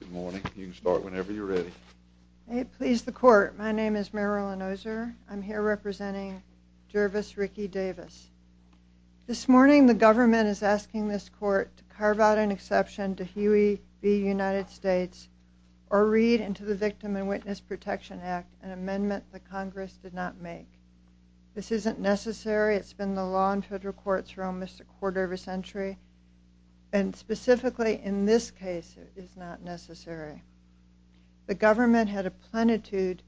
Good morning. You can start whenever you're ready. May it please the court, my name is Marilyn Ozer. I'm here representing Jervis Ricky Davis. This morning the government is asking this court to carve out an exception to Huey v. United States or read into the Victim and Witness Protection Act an amendment the Congress did not make. This isn't necessary. It's been the law in federal courts for almost a quarter of a century. And specifically in this case it is not necessary. The government had a plenitude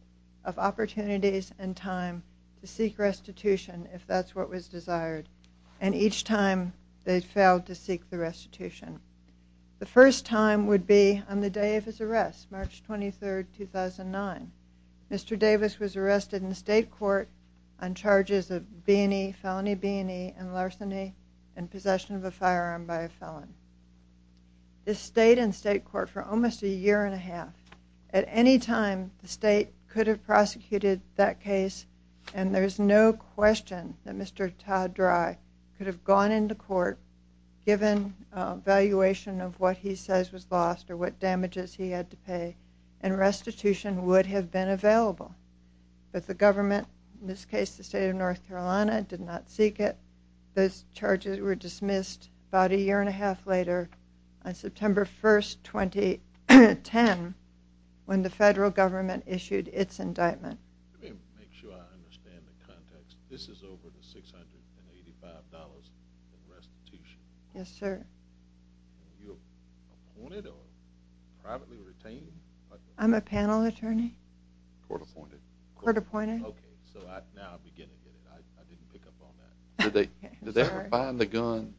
of opportunities and time to seek restitution if that's what was desired. And each time they failed to seek the restitution. The first time would be on the day of his arrest, March 23, 2009. Mr. Davis was arrested in state court on charges of felony B&E and larceny and possession of a firearm by a felon. This stayed in state court for almost a year and a half. At any time the state could have prosecuted that case and there's no question that Mr. Todd Dry could have gone into court given valuation of what he says was lost or what damages he had to pay and restitution would have been available. But the government, in this case the state of North Carolina, did not seek it. Those charges were dismissed about a year and a half later on September 1, 2010 when the federal government issued its indictment. Let me make sure I understand the context. This is over $685 in restitution. Yes, sir. Were you appointed or privately retained? I'm a panel attorney. Court appointed? Court appointed. Okay, so now I'm beginning it. I didn't pick up on that. Did they ever find the gun?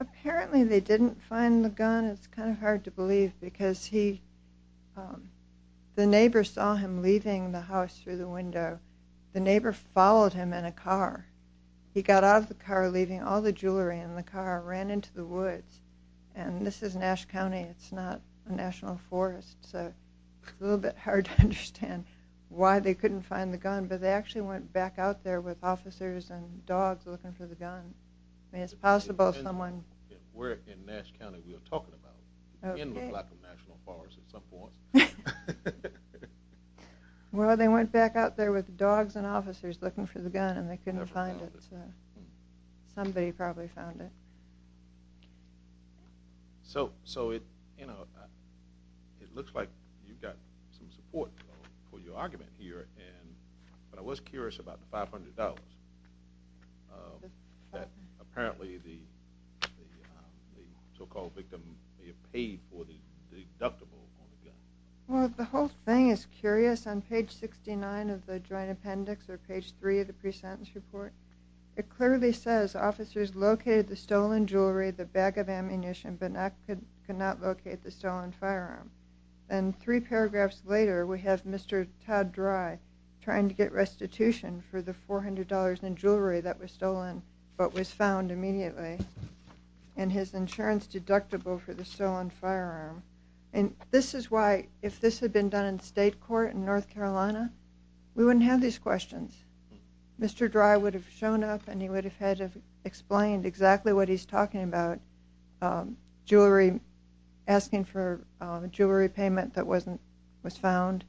Apparently they didn't find the gun. It's kind of hard to believe because the neighbor saw him leaving the house through the window. The neighbor followed him in a car. He got out of the car leaving all the jewelry in the car and ran into the woods. And this is Nash County. It's not a national forest so it's a little bit hard to understand why they couldn't find the gun. But they actually went back out there with officers and dogs looking for the gun. It's possible someone... We're in Nash County. We were talking about it. It did look like a national forest at some point. Well, they went back out there with dogs and officers looking for the gun and they couldn't find it. Somebody probably found it. So it looks like you've got some support for your argument here. But I was curious about the $500 that apparently the so-called victim paid for the deductible on the gun. Well, the whole thing is curious. On page 69 of the joint appendix or page 3 of the pre-sentence report, it clearly says officers located the stolen jewelry, the bag of ammunition, but could not locate the stolen firearm. And three paragraphs later we have Mr. Todd Dry trying to get restitution for the $400 in jewelry that was stolen but was found immediately and his insurance deductible for the stolen firearm. And this is why if this had been done in state court in North Carolina, we wouldn't have these questions. Mr. Dry would have shown up and he would have had to have explained exactly what he's talking about, asking for a jewelry payment that was found.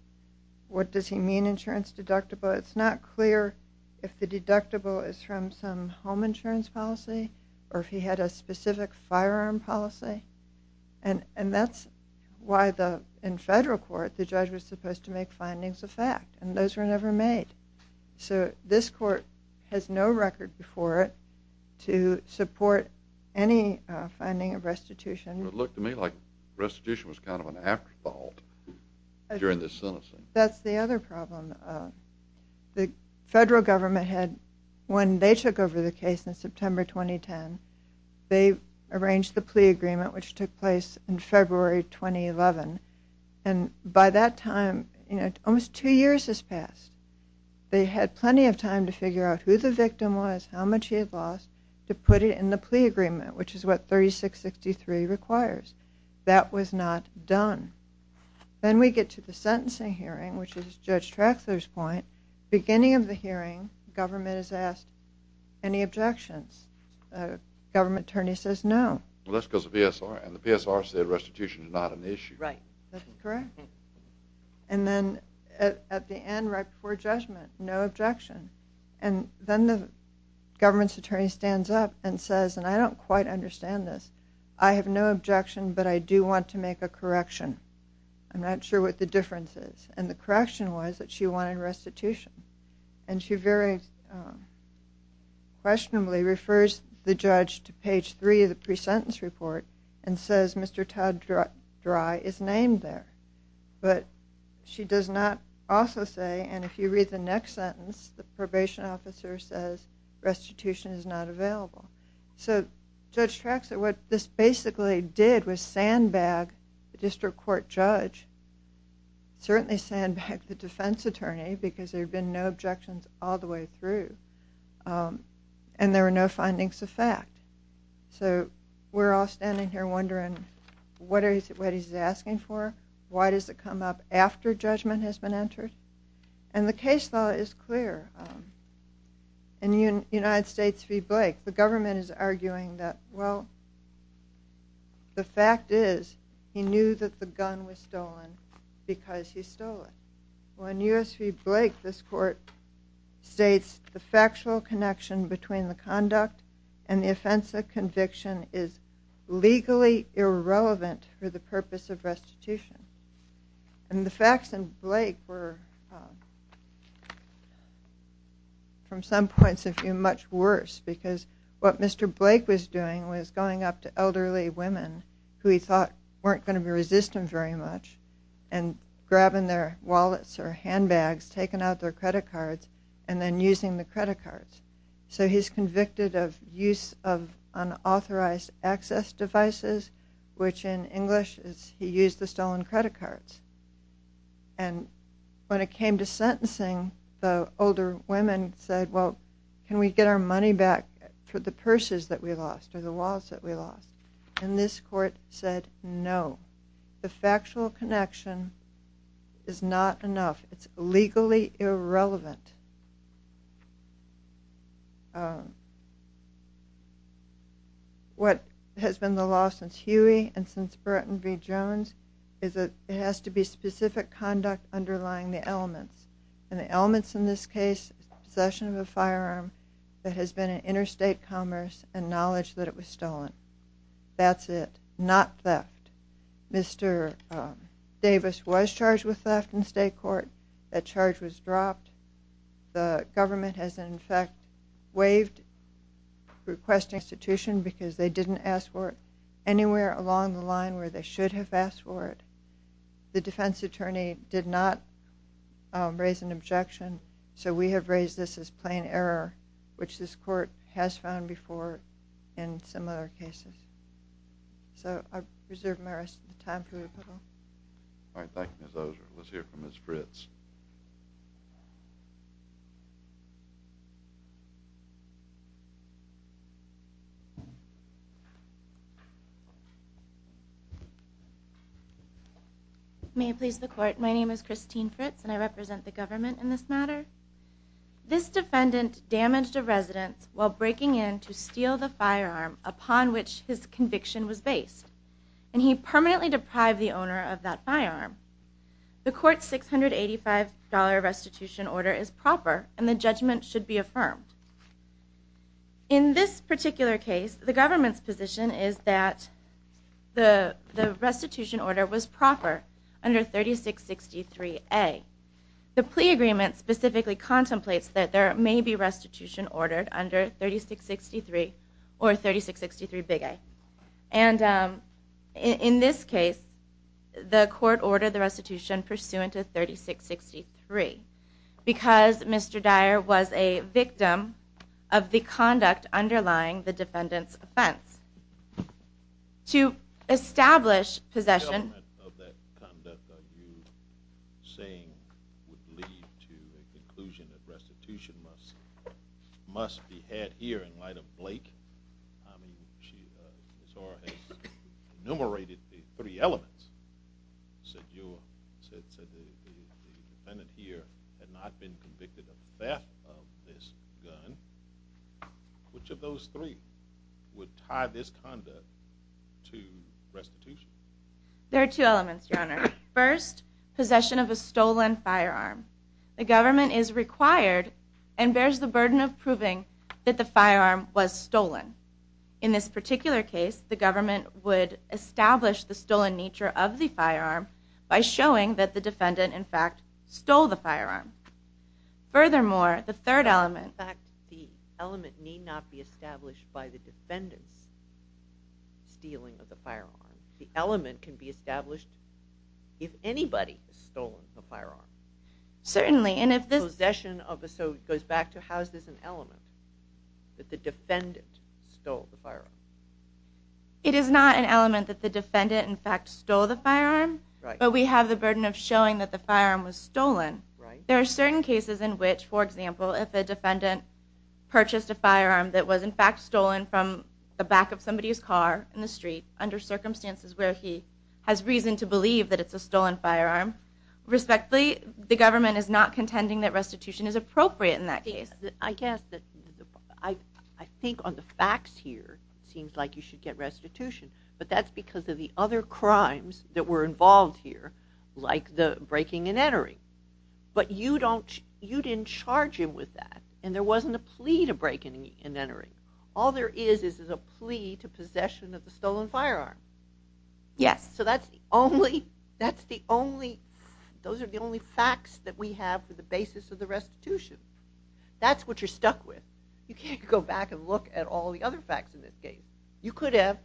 What does he mean, insurance deductible? It's not clear if the deductible is from some home insurance policy or if he had a specific firearm policy. And that's why in federal court the judge was supposed to make findings of fact and those were never made. So this court has no record before it to support any finding of restitution. It looked to me like restitution was kind of an afterthought during this sentencing. That's the other problem. The federal government had, when they took over the case in September 2010, they arranged the plea agreement which took place in February 2011. And by that time, almost two years has passed. They had plenty of time to figure out who the victim was, how much he had lost, to put it in the plea agreement which is what 3663 requires. That was not done. Then we get to the sentencing hearing which is Judge Traxler's point. Beginning of the hearing, government is asked, any objections? Government attorney says no. That's because of PSR and the PSR said restitution is not an issue. Right. That's correct. And then at the end, right before judgment, no objection. And then the government's attorney stands up and says, and I don't quite understand this, I have no objection but I do want to make a correction. I'm not sure what the difference is. And the correction was that she wanted restitution. And she very questionably refers the judge to page three of the pre-sentence report and says Mr. Todd Dry is named there. But she does not also say, and if you read the next sentence, the probation officer says restitution is not available. So Judge Traxler, what this basically did was sandbag the district court judge, certainly sandbag the defense attorney because there had been no objections all the way through and there were no findings of fact. So we're all standing here wondering what he's asking for. Why does it come up after judgment has been entered? And the case law is clear. In the United States v. Blake, the government is arguing that, well, the fact is he knew that the gun was stolen because he stole it. Well, in U.S. v. Blake, this court states the factual connection between the conduct and the offense of conviction is legally irrelevant for the purpose of restitution. And the facts in Blake were, from some points of view, much worse because what Mr. Blake was doing was going up to elderly women who he thought weren't going to resist him very much and grabbing their wallets or handbags, taking out their credit cards, and then using the credit cards. So he's convicted of use of unauthorized access devices, which in English is he used the stolen credit cards. And when it came to sentencing, the older women said, well, can we get our money back for the purses that we lost or the wallets that we lost? And this court said no. The factual connection is not enough. It's legally irrelevant. What has been the law since Huey and since Burton v. Jones And the elements in this case, possession of a firearm that has been in interstate commerce and knowledge that it was stolen. That's it. Not theft. Mr. Davis was charged with theft in state court. That charge was dropped. The government has, in fact, waived requesting restitution because they didn't ask for it anywhere along the line where they should have asked for it. The defense attorney did not raise an objection, so we have raised this as plain error, which this court has found before in similar cases. So I reserve my rest of the time for rebuttal. All right. Thank you, Ms. Ozer. Let's hear from Ms. Fritz. May it please the court. My name is Christine Fritz, and I represent the government in this matter. This defendant damaged a residence while breaking in to steal the firearm upon which his conviction was based, and he permanently deprived the owner of that firearm. The court's $685 restitution order is proper, and the judgment should be affirmed. In this particular case, the government's position is that the restitution order was proper under 3663A. The plea agreement specifically contemplates that there may be restitution ordered under 3663 or 3663A. And in this case, the court ordered the restitution pursuant to 3663 because Mr. Dyer was a victim of the conduct underlying the defendant's offense. The government of that conduct, are you saying, would lead to a conclusion that restitution must be had here in light of Blake? I mean, Ms. Ozer has enumerated the three elements. She said the defendant here had not been convicted of theft of this gun. Which of those three would tie this conduct to restitution? There are two elements, Your Honor. First, possession of a stolen firearm. The government is required and bears the burden of proving that the firearm was stolen. In this particular case, the government would establish the stolen nature of the firearm by showing that the defendant, in fact, stole the firearm. Furthermore, the third element... In fact, the element need not be established by the defendant's stealing of the firearm. The element can be established if anybody has stolen the firearm. Certainly, and if this... So it goes back to how is this an element, that the defendant stole the firearm? It is not an element that the defendant, in fact, stole the firearm, but we have the burden of showing that the firearm was stolen. There are certain cases in which, for example, if a defendant purchased a firearm that was, in fact, stolen from the back of somebody's car in the street under circumstances where he has reason to believe that it's a stolen firearm. Respectfully, the government is not contending that restitution is appropriate in that case. I guess that I think on the facts here, it seems like you should get restitution, but that's because of the other crimes that were involved here, like the breaking and entering. But you didn't charge him with that, and there wasn't a plea to break and entering. All there is is a plea to possession of the stolen firearm. Yes. So that's the only... Those are the only facts that we have for the basis of the restitution. That's what you're stuck with. You can't go back and look at all the other facts in this case. You could have,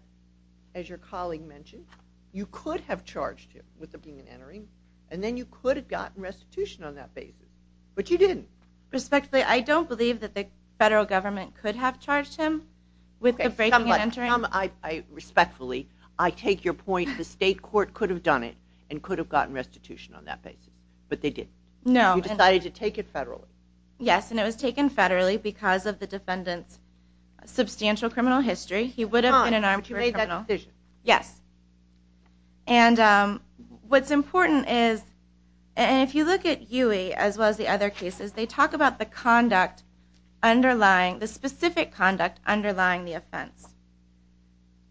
as your colleague mentioned, you could have charged him with the breaking and entering, and then you could have gotten restitution on that basis, but you didn't. Respectfully, I don't believe that the federal government could have charged him with the breaking and entering. Come on, respectfully, I take your point. The state court could have done it and could have gotten restitution on that basis, but they didn't. No. You decided to take it federally. Yes, and it was taken federally because of the defendant's substantial criminal history. He would have been an armed criminal. But you made that decision. Yes. And what's important is, and if you look at Huey as well as the other cases, they talk about the specific conduct underlying the offense.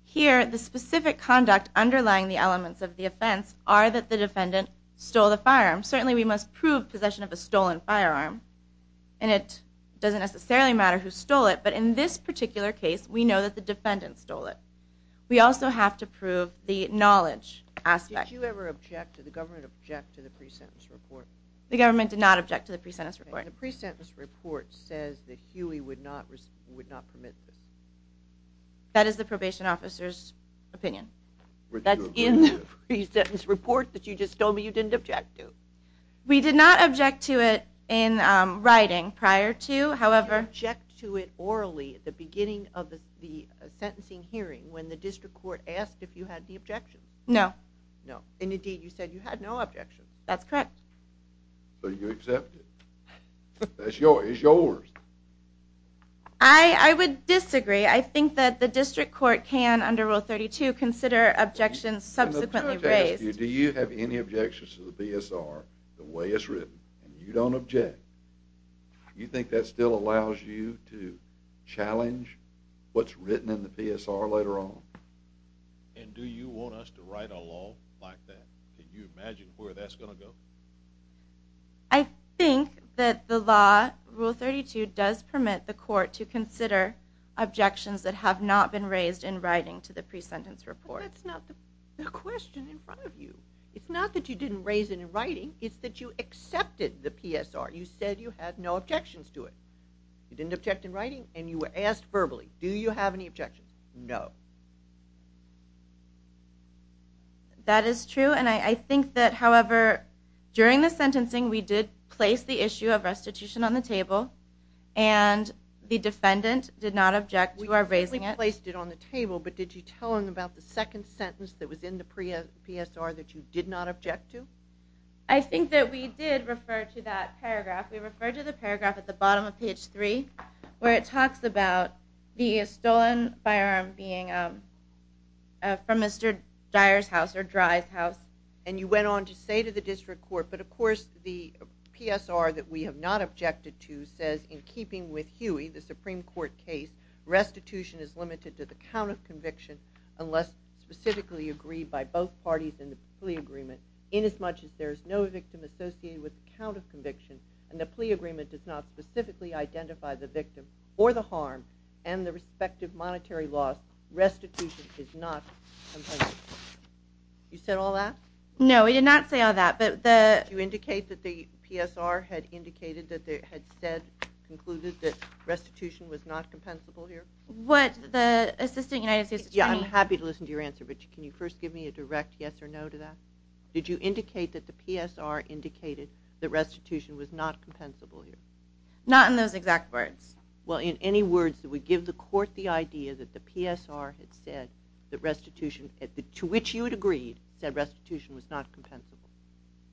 Here, the specific conduct underlying the elements of the offense are that the defendant stole the firearm. Certainly we must prove possession of a stolen firearm, and it doesn't necessarily matter who stole it, but in this particular case, we know that the defendant stole it. We also have to prove the knowledge aspect. Did you ever object to the government object to the pre-sentence report? The government did not object to the pre-sentence report. The pre-sentence report says that Huey would not permit this. That is the probation officer's opinion. That's in the pre-sentence report that you just told me you didn't object to. We did not object to it in writing prior to, however. Did you object to it orally at the beginning of the sentencing hearing when the district court asked if you had the objection? No. No, and indeed you said you had no objection. That's correct. So you accept it. It's yours. I would disagree. I think that the district court can, under Rule 32, consider objections subsequently raised. Do you have any objections to the BSR the way it's written, and you don't object? Do you think that still allows you to challenge what's written in the BSR later on? And do you want us to write a law like that? Can you imagine where that's going to go? I think that the law, Rule 32, does permit the court to consider objections that have not been raised in writing to the pre-sentence report. But that's not the question in front of you. It's not that you didn't raise it in writing. It's that you accepted the PSR. You said you had no objections to it. You didn't object in writing, and you were asked verbally, do you have any objections? No. That is true, and I think that, however, during the sentencing we did place the issue of restitution on the table, and the defendant did not object to our raising it. We placed it on the table, but did you tell him about the second sentence that was in the PSR that you did not object to? I think that we did refer to that paragraph. We referred to the paragraph at the bottom of page 3 where it talks about the stolen firearm being from Mr. Dyer's house or Dry's house. And you went on to say to the district court, but of course the PSR that we have not objected to says, in keeping with Huey, the Supreme Court case, restitution is limited to the count of conviction unless specifically agreed by both parties in the plea agreement. Inasmuch as there is no victim associated with the count of conviction and the plea agreement does not specifically identify the victim or the harm and the respective monetary loss, restitution is not compensable. You said all that? No, we did not say all that. Did you indicate that the PSR had indicated that they had said, concluded that restitution was not compensable here? I'm happy to listen to your answer, but can you first give me a direct yes or no to that? Did you indicate that the PSR indicated that restitution was not compensable? Not in those exact words. Well, in any words that would give the court the idea that the PSR had said that restitution, to which you had agreed, said restitution was not compensable?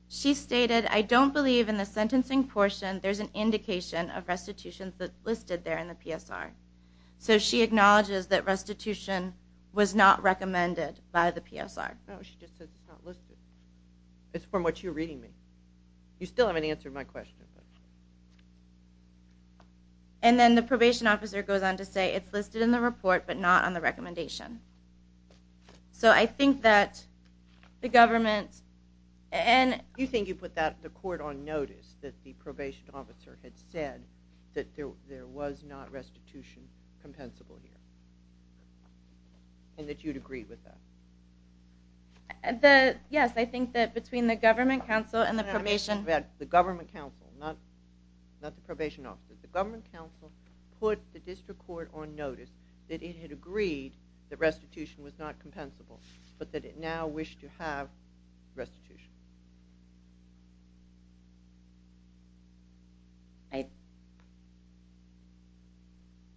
She stated, I don't believe in the sentencing portion there's an indication of restitution listed there in the PSR. So she acknowledges that restitution was not recommended by the PSR. No, she just said it's not listed. It's from what you're reading me. You still haven't answered my question. And then the probation officer goes on to say it's listed in the report but not on the recommendation. So I think that the government and... Do you think you put the court on notice that the probation officer had said that there was not restitution compensable here and that you'd agree with that? Yes, I think that between the government counsel and the probation... The government counsel, not the probation officer. The government counsel put the district court on notice that it had agreed that restitution was not compensable but that it now wished to have restitution.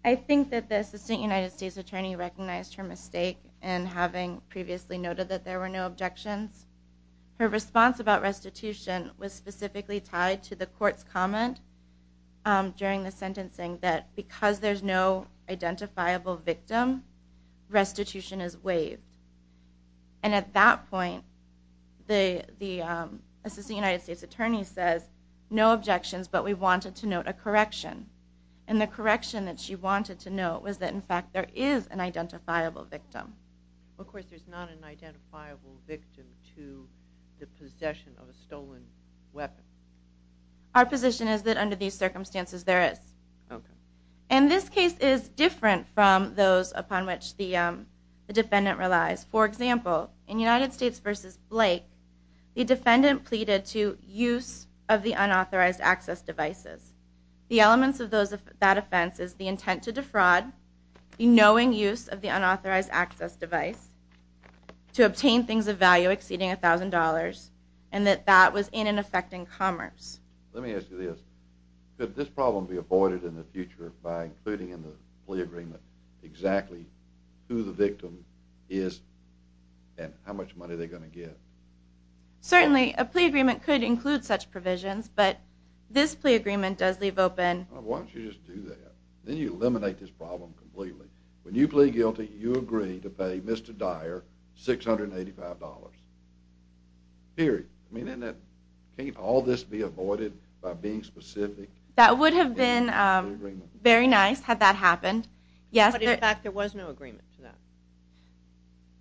I think that the assistant United States attorney recognized her mistake in having previously noted that there were no objections. Her response about restitution was specifically tied to the court's comment during the sentencing that because there's no identifiable victim, restitution is waived. And at that point, the assistant United States attorney says, no objections, but we wanted to note a correction. And the correction that she wanted to note was that, in fact, there is an identifiable victim. Of course, there's not an identifiable victim to the possession of a stolen weapon. Our position is that under these circumstances, there is. And this case is different from those upon which the defendant relies. For example, in United States v. Blake, the defendant pleaded to use of the unauthorized access devices. The elements of that offense is the intent to defraud, the knowing use of the unauthorized access device, to obtain things of value exceeding $1,000, and that that was in and affecting commerce. Let me ask you this. Could this problem be avoided in the future by including in the plea agreement exactly who the victim is and how much money they're going to get? Certainly, a plea agreement could include such provisions, but this plea agreement does leave open. Why don't you just do that? Then you eliminate this problem completely. When you plead guilty, you agree to pay Mr. Dyer $685. Period. Can't all this be avoided by being specific? That would have been very nice had that happened. In fact, there was no agreement for that.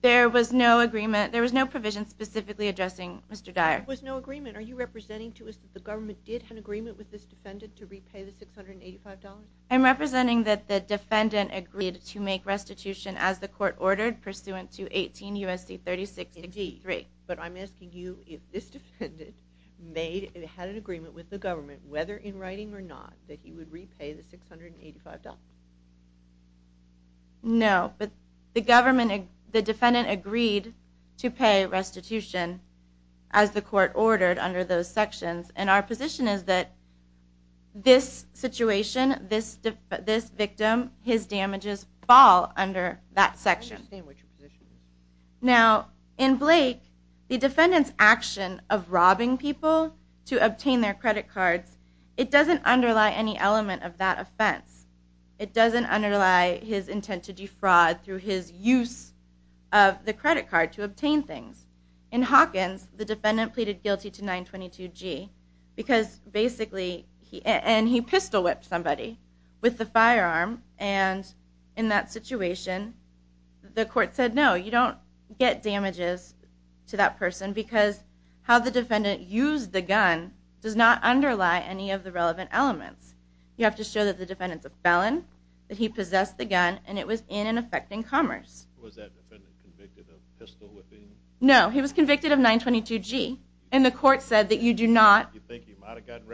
There was no agreement. There was no provision specifically addressing Mr. Dyer. There was no agreement. Are you representing to us that the government did have an agreement with this defendant to repay the $685? I'm representing that the defendant agreed to make restitution as the court ordered pursuant to 18 U.S.C. 3663. But I'm asking you if this defendant had an agreement with the government, whether in writing or not, that he would repay the $685. No, but the defendant agreed to pay restitution as the court ordered under those sections, and our position is that this situation, this victim, his damages fall under that section. I understand what your position is. Now, in Blake, the defendant's action of robbing people to obtain their credit cards, it doesn't underlie any element of that offense. It doesn't underlie his intent to defraud through his use of the credit card to obtain things. In Hawkins, the defendant pleaded guilty to 922-G because basically he pistol-whipped somebody with the firearm, and in that situation, the court said, no, you don't get damages to that person because how the defendant used the gun does not underlie any of the relevant elements. You have to show that the defendant's a felon, that he possessed the gun, and it was in and affecting commerce. Was that defendant convicted of pistol-whipping? No, he was convicted of 922-G, and the court said that you do not... You think he might have gotten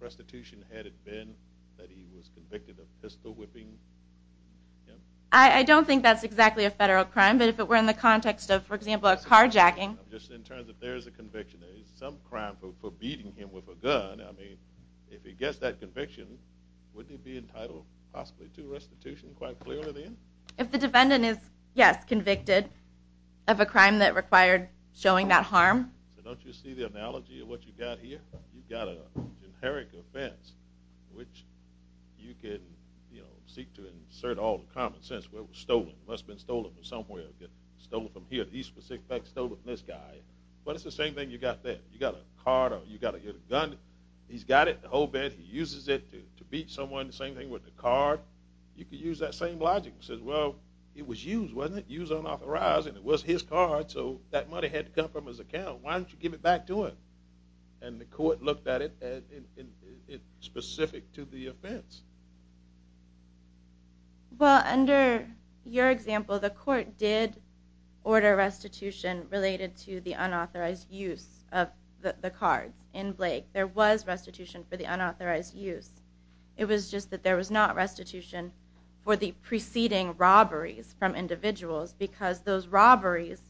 restitution had it been that he was convicted of pistol-whipping? I don't think that's exactly a federal crime, but if it were in the context of, for example, a carjacking... Just in terms of there is a conviction, there is some crime for beating him with a gun. I mean, if he gets that conviction, would he be entitled possibly to restitution quite clearly then? If the defendant is, yes, convicted of a crime that required showing that harm. So don't you see the analogy of what you've got here? You've got a generic offense, which you can seek to insert all the common sense where it was stolen. It must have been stolen from somewhere. Stolen from here, the East Pacific. In fact, stolen from this guy. But it's the same thing you've got there. You've got a card, or you've got to get a gun. He's got it, the whole bit. He uses it to beat someone. The same thing with the card. You could use that same logic and say, well, it was used, wasn't it? Used unauthorized, and it was his card, so that money had to come from his account. Why don't you give it back to him? And the court looked at it specific to the offense. Well, under your example, the court did order restitution related to the unauthorized use of the cards in Blake. There was restitution for the unauthorized use. It was just that there was not restitution for the preceding robberies from individuals because those robberies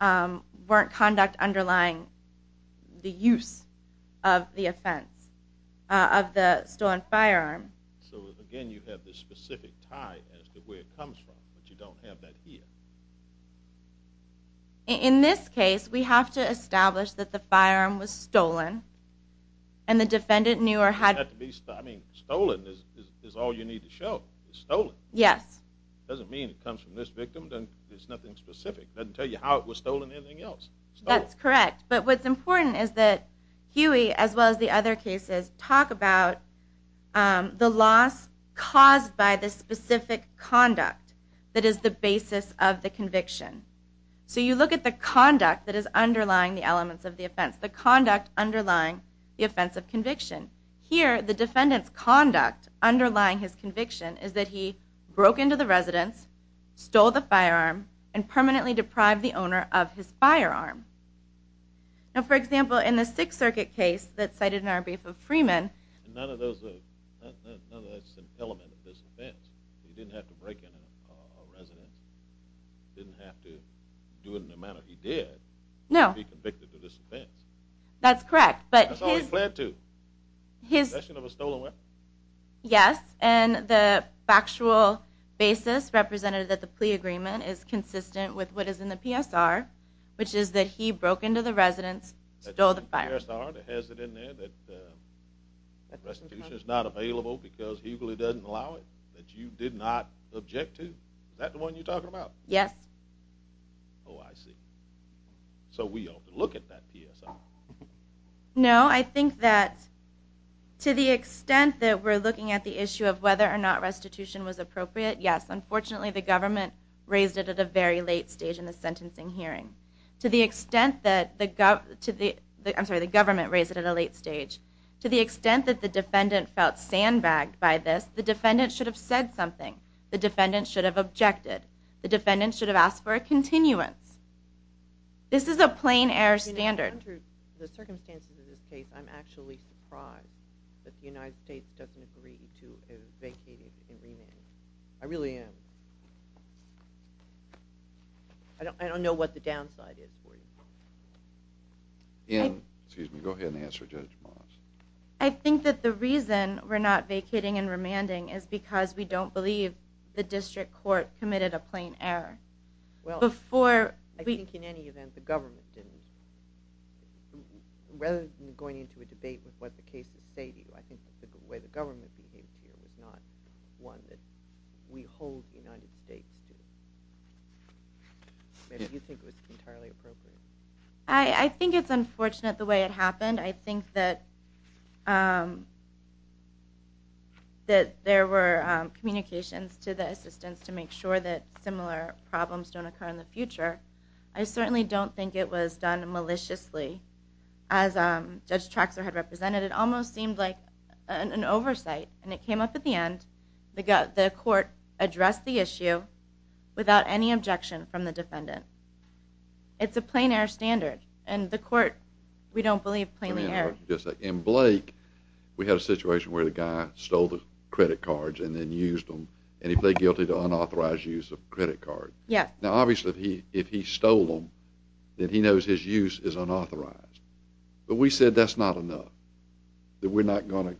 weren't conduct underlying the use of the offense, of the stolen firearm. So, again, you have this specific tie as to where it comes from, but you don't have that here. In this case, we have to establish that the firearm was stolen, and the defendant knew or had... I mean, stolen is all you need to show. It's stolen. Yes. It doesn't mean it comes from this victim. It's nothing specific. It doesn't tell you how it was stolen or anything else. That's correct, but what's important is that Huey, as well as the other cases, talk about the loss caused by the specific conduct that is the basis of the conviction. So you look at the conduct that is underlying the elements of the offense, the conduct underlying the offense of conviction. Here, the defendant's conduct underlying his conviction is that he broke into the residence, stole the firearm, and permanently deprived the owner of his firearm. Now, for example, in the Sixth Circuit case that's cited in our brief of Freeman... None of those are elements of this offense. He didn't have to break into a residence. He didn't have to do it in the manner he did to be convicted of this offense. That's correct, but his... That's all he pled to, possession of a stolen weapon. Yes, and the factual basis represented that the plea agreement is consistent with what is in the PSR, which is that he broke into the residence, stole the firearm. The PSR has it in there that restitution is not available because Huey doesn't allow it, that you did not object to. Is that the one you're talking about? Yes. Oh, I see. So we ought to look at that PSR. No, I think that to the extent that we're looking at the issue of whether or not restitution was appropriate, yes. Unfortunately, the government raised it at a very late stage in the sentencing hearing. To the extent that the gov... I'm sorry, the government raised it at a late stage. To the extent that the defendant felt sandbagged by this, the defendant should have said something. The defendant should have objected. The defendant should have asked for a continuance. This is a plain-error standard. In the circumstances of this case, I'm actually surprised that the United States doesn't agree to vacating and remanding. I really am. I don't know what the downside is for you. Excuse me. Go ahead and answer, Judge Morris. I think that the reason we're not vacating and remanding is because we don't believe the district court committed a plain error. I think in any event, the government didn't. Rather than going into a debate with what the cases say to you, I think the way the government behaved here was not one that we hold the United States to. Maybe you think it was entirely appropriate. I think it's unfortunate the way it happened. I think that there were communications to the assistants to make sure that similar problems don't occur in the future. I certainly don't think it was done maliciously. As Judge Traxler had represented, it almost seemed like an oversight, and it came up at the end. The court addressed the issue without any objection from the defendant. It's a plain-error standard, and the court, we don't believe, plainly erred. In Blake, we had a situation where the guy stole the credit cards and then used them, and he pled guilty to unauthorized use of a credit card. Now, obviously, if he stole them, then he knows his use is unauthorized. But we said that's not enough, that we're not going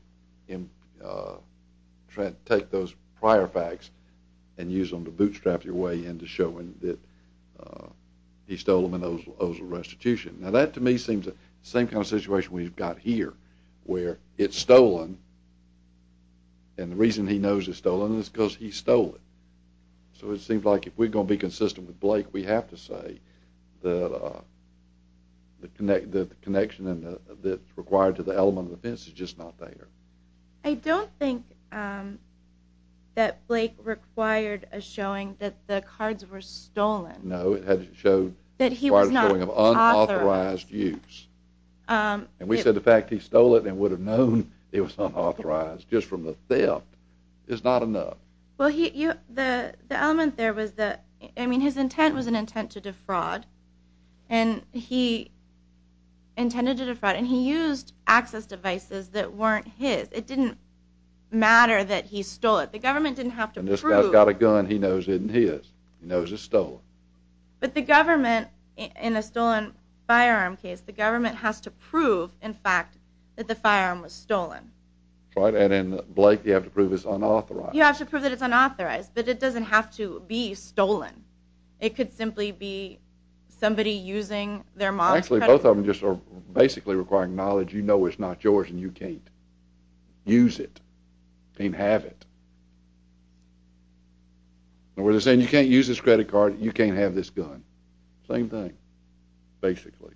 to take those prior facts and use them to bootstrap your way into showing that he stole them and owes a restitution. Now, that to me seems the same kind of situation we've got here, where it's stolen, and the reason he knows it's stolen is because he stole it. So it seems like if we're going to be consistent with Blake, we have to say that the connection that's required to the element of offense is just not there. I don't think that Blake required a showing that the cards were stolen. No, it required a showing of unauthorized use. And we said the fact he stole it and would have known it was unauthorized just from the theft is not enough. Well, the element there was that, I mean, his intent was an intent to defraud, and he intended to defraud, and he used access devices that weren't his. It didn't matter that he stole it. The government didn't have to prove. When this guy's got a gun, he knows it isn't his. He knows it's stolen. But the government, in a stolen firearm case, the government has to prove, in fact, that the firearm was stolen. Right, and Blake, you have to prove it's unauthorized. You have to prove that it's unauthorized, but it doesn't have to be stolen. It could simply be somebody using their mom's credit card. Actually, both of them just are basically requiring knowledge. You know it's not yours, and you can't use it, can't have it. Or they're saying, you can't use this credit card, you can't have this gun. Same thing, basically.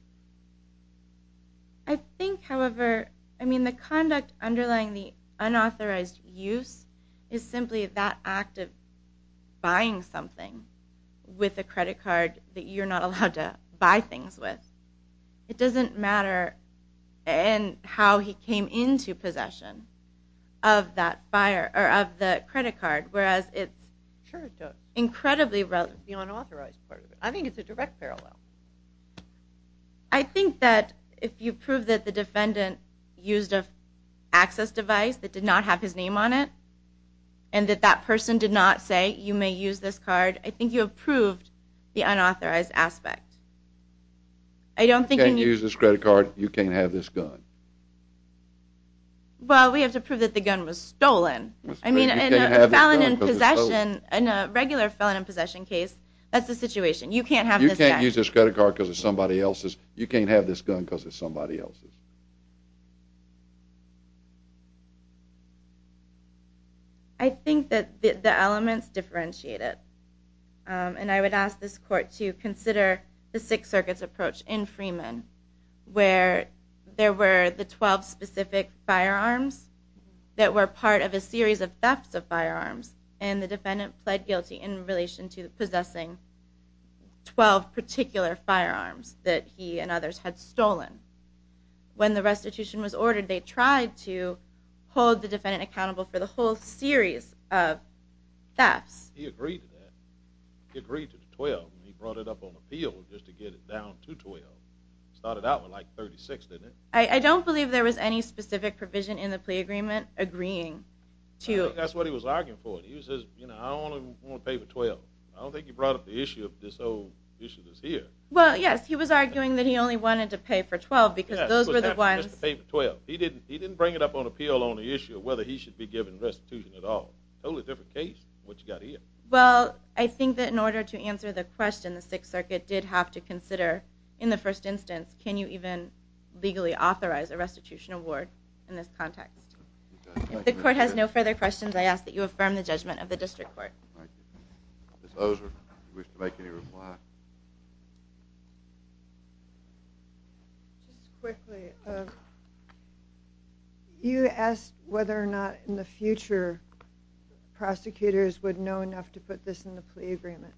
I think, however, I mean, the conduct underlying the unauthorized use is simply that act of buying something with a credit card that you're not allowed to buy things with. It doesn't matter how he came into possession of that buyer, or of the credit card, whereas it's incredibly relevant. It's the unauthorized part of it. I think it's a direct parallel. I think that if you prove that the defendant used an access device that did not have his name on it, and that that person did not say, you may use this card, I think you have proved the unauthorized aspect. You can't use this credit card, you can't have this gun. Well, we have to prove that the gun was stolen. I mean, in a regular felon in possession case, that's the situation. You can't have this gun. You can't use this credit card because it's somebody else's. You can't have this gun because it's somebody else's. I think that the elements differentiate it. And I would ask this court to consider the Sixth Circuit's approach in Freeman, where there were the 12 specific firearms that were part of a series of thefts of firearms, and the defendant pled guilty in relation to possessing 12 particular firearms that he and others had stolen. When the restitution was ordered, they tried to hold the defendant accountable for the whole series of thefts. He agreed to that. He brought it up on appeal just to get it down to 12. It started out with, like, 36, didn't it? I don't believe there was any specific provision in the plea agreement agreeing to it. I think that's what he was arguing for. He says, you know, I only want to pay for 12. I don't think he brought up the issue of this old issue that's here. Well, yes, he was arguing that he only wanted to pay for 12 because those were the ones. He didn't bring it up on appeal on the issue of whether he should be given restitution at all. Totally different case than what you've got here. Well, I think that in order to answer the question, the Sixth Circuit did have to consider, in the first instance, can you even legally authorize a restitution award in this context? If the court has no further questions, I ask that you affirm the judgment of the district court. Ms. Ozer, do you wish to make any reply? Just quickly, you asked whether or not in the future prosecutors would know enough to put this in the plea agreement.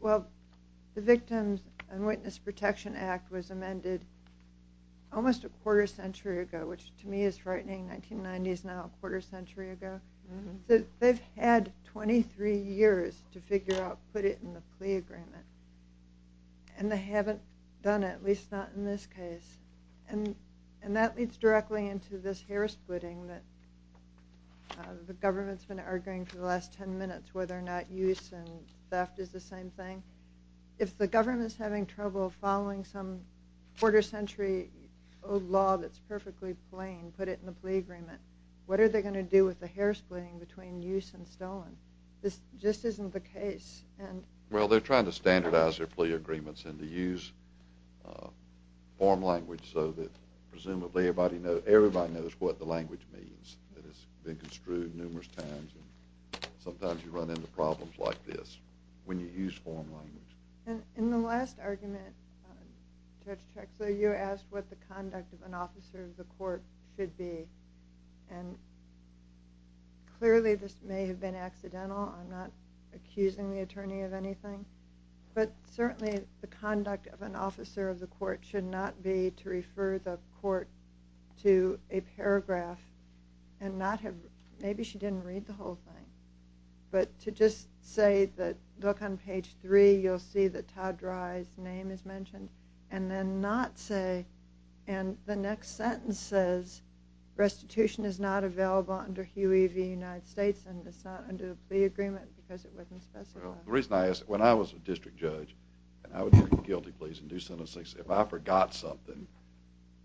Well, the Victims and Witness Protection Act was amended almost a quarter century ago, which to me is frightening. 1990 is now a quarter century ago. They've had 23 years to figure out, put it in the plea agreement. And they haven't done it, at least not in this case. And that leads directly into this hair splitting that the government's been arguing for the last ten minutes, whether or not use and theft is the same thing. If the government's having trouble following some quarter century old law that's perfectly plain, put it in the plea agreement, what are they going to do with the hair splitting between use and stolen? This just isn't the case. Well, they're trying to standardize their plea agreements and to use form language so that presumably everybody knows what the language means. It has been construed numerous times. Sometimes you run into problems like this when you use form language. In the last argument, Judge Trexler, you asked what the conduct of an officer of the court should be. And clearly this may have been accidental. I'm not accusing the attorney of anything. But certainly the conduct of an officer of the court should not be to refer the court to a paragraph and not have, maybe she didn't read the whole thing, but to just say that look on page 3, you'll see that Todd Dry's name is mentioned, and then not say, and the next sentence says, restitution is not available under Huey v. United States and it's not under the plea agreement because it wasn't specified. The reason I ask, when I was a district judge, and I would do guilty pleas and do sentences, if I forgot something,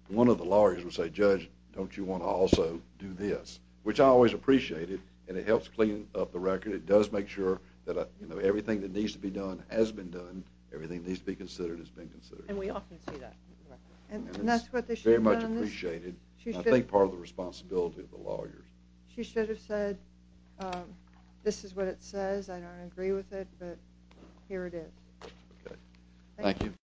one of the lawyers would say, Judge, don't you want to also do this? Which I always appreciated, and it helps clean up the record. It does make sure that everything that needs to be done has been done, everything that needs to be considered has been considered. And we often see that. And that's what they should have done. It's very much appreciated, and I think part of the responsibility of the lawyers. She should have said, this is what it says. I don't agree with it, but here it is. Okay. Thank you.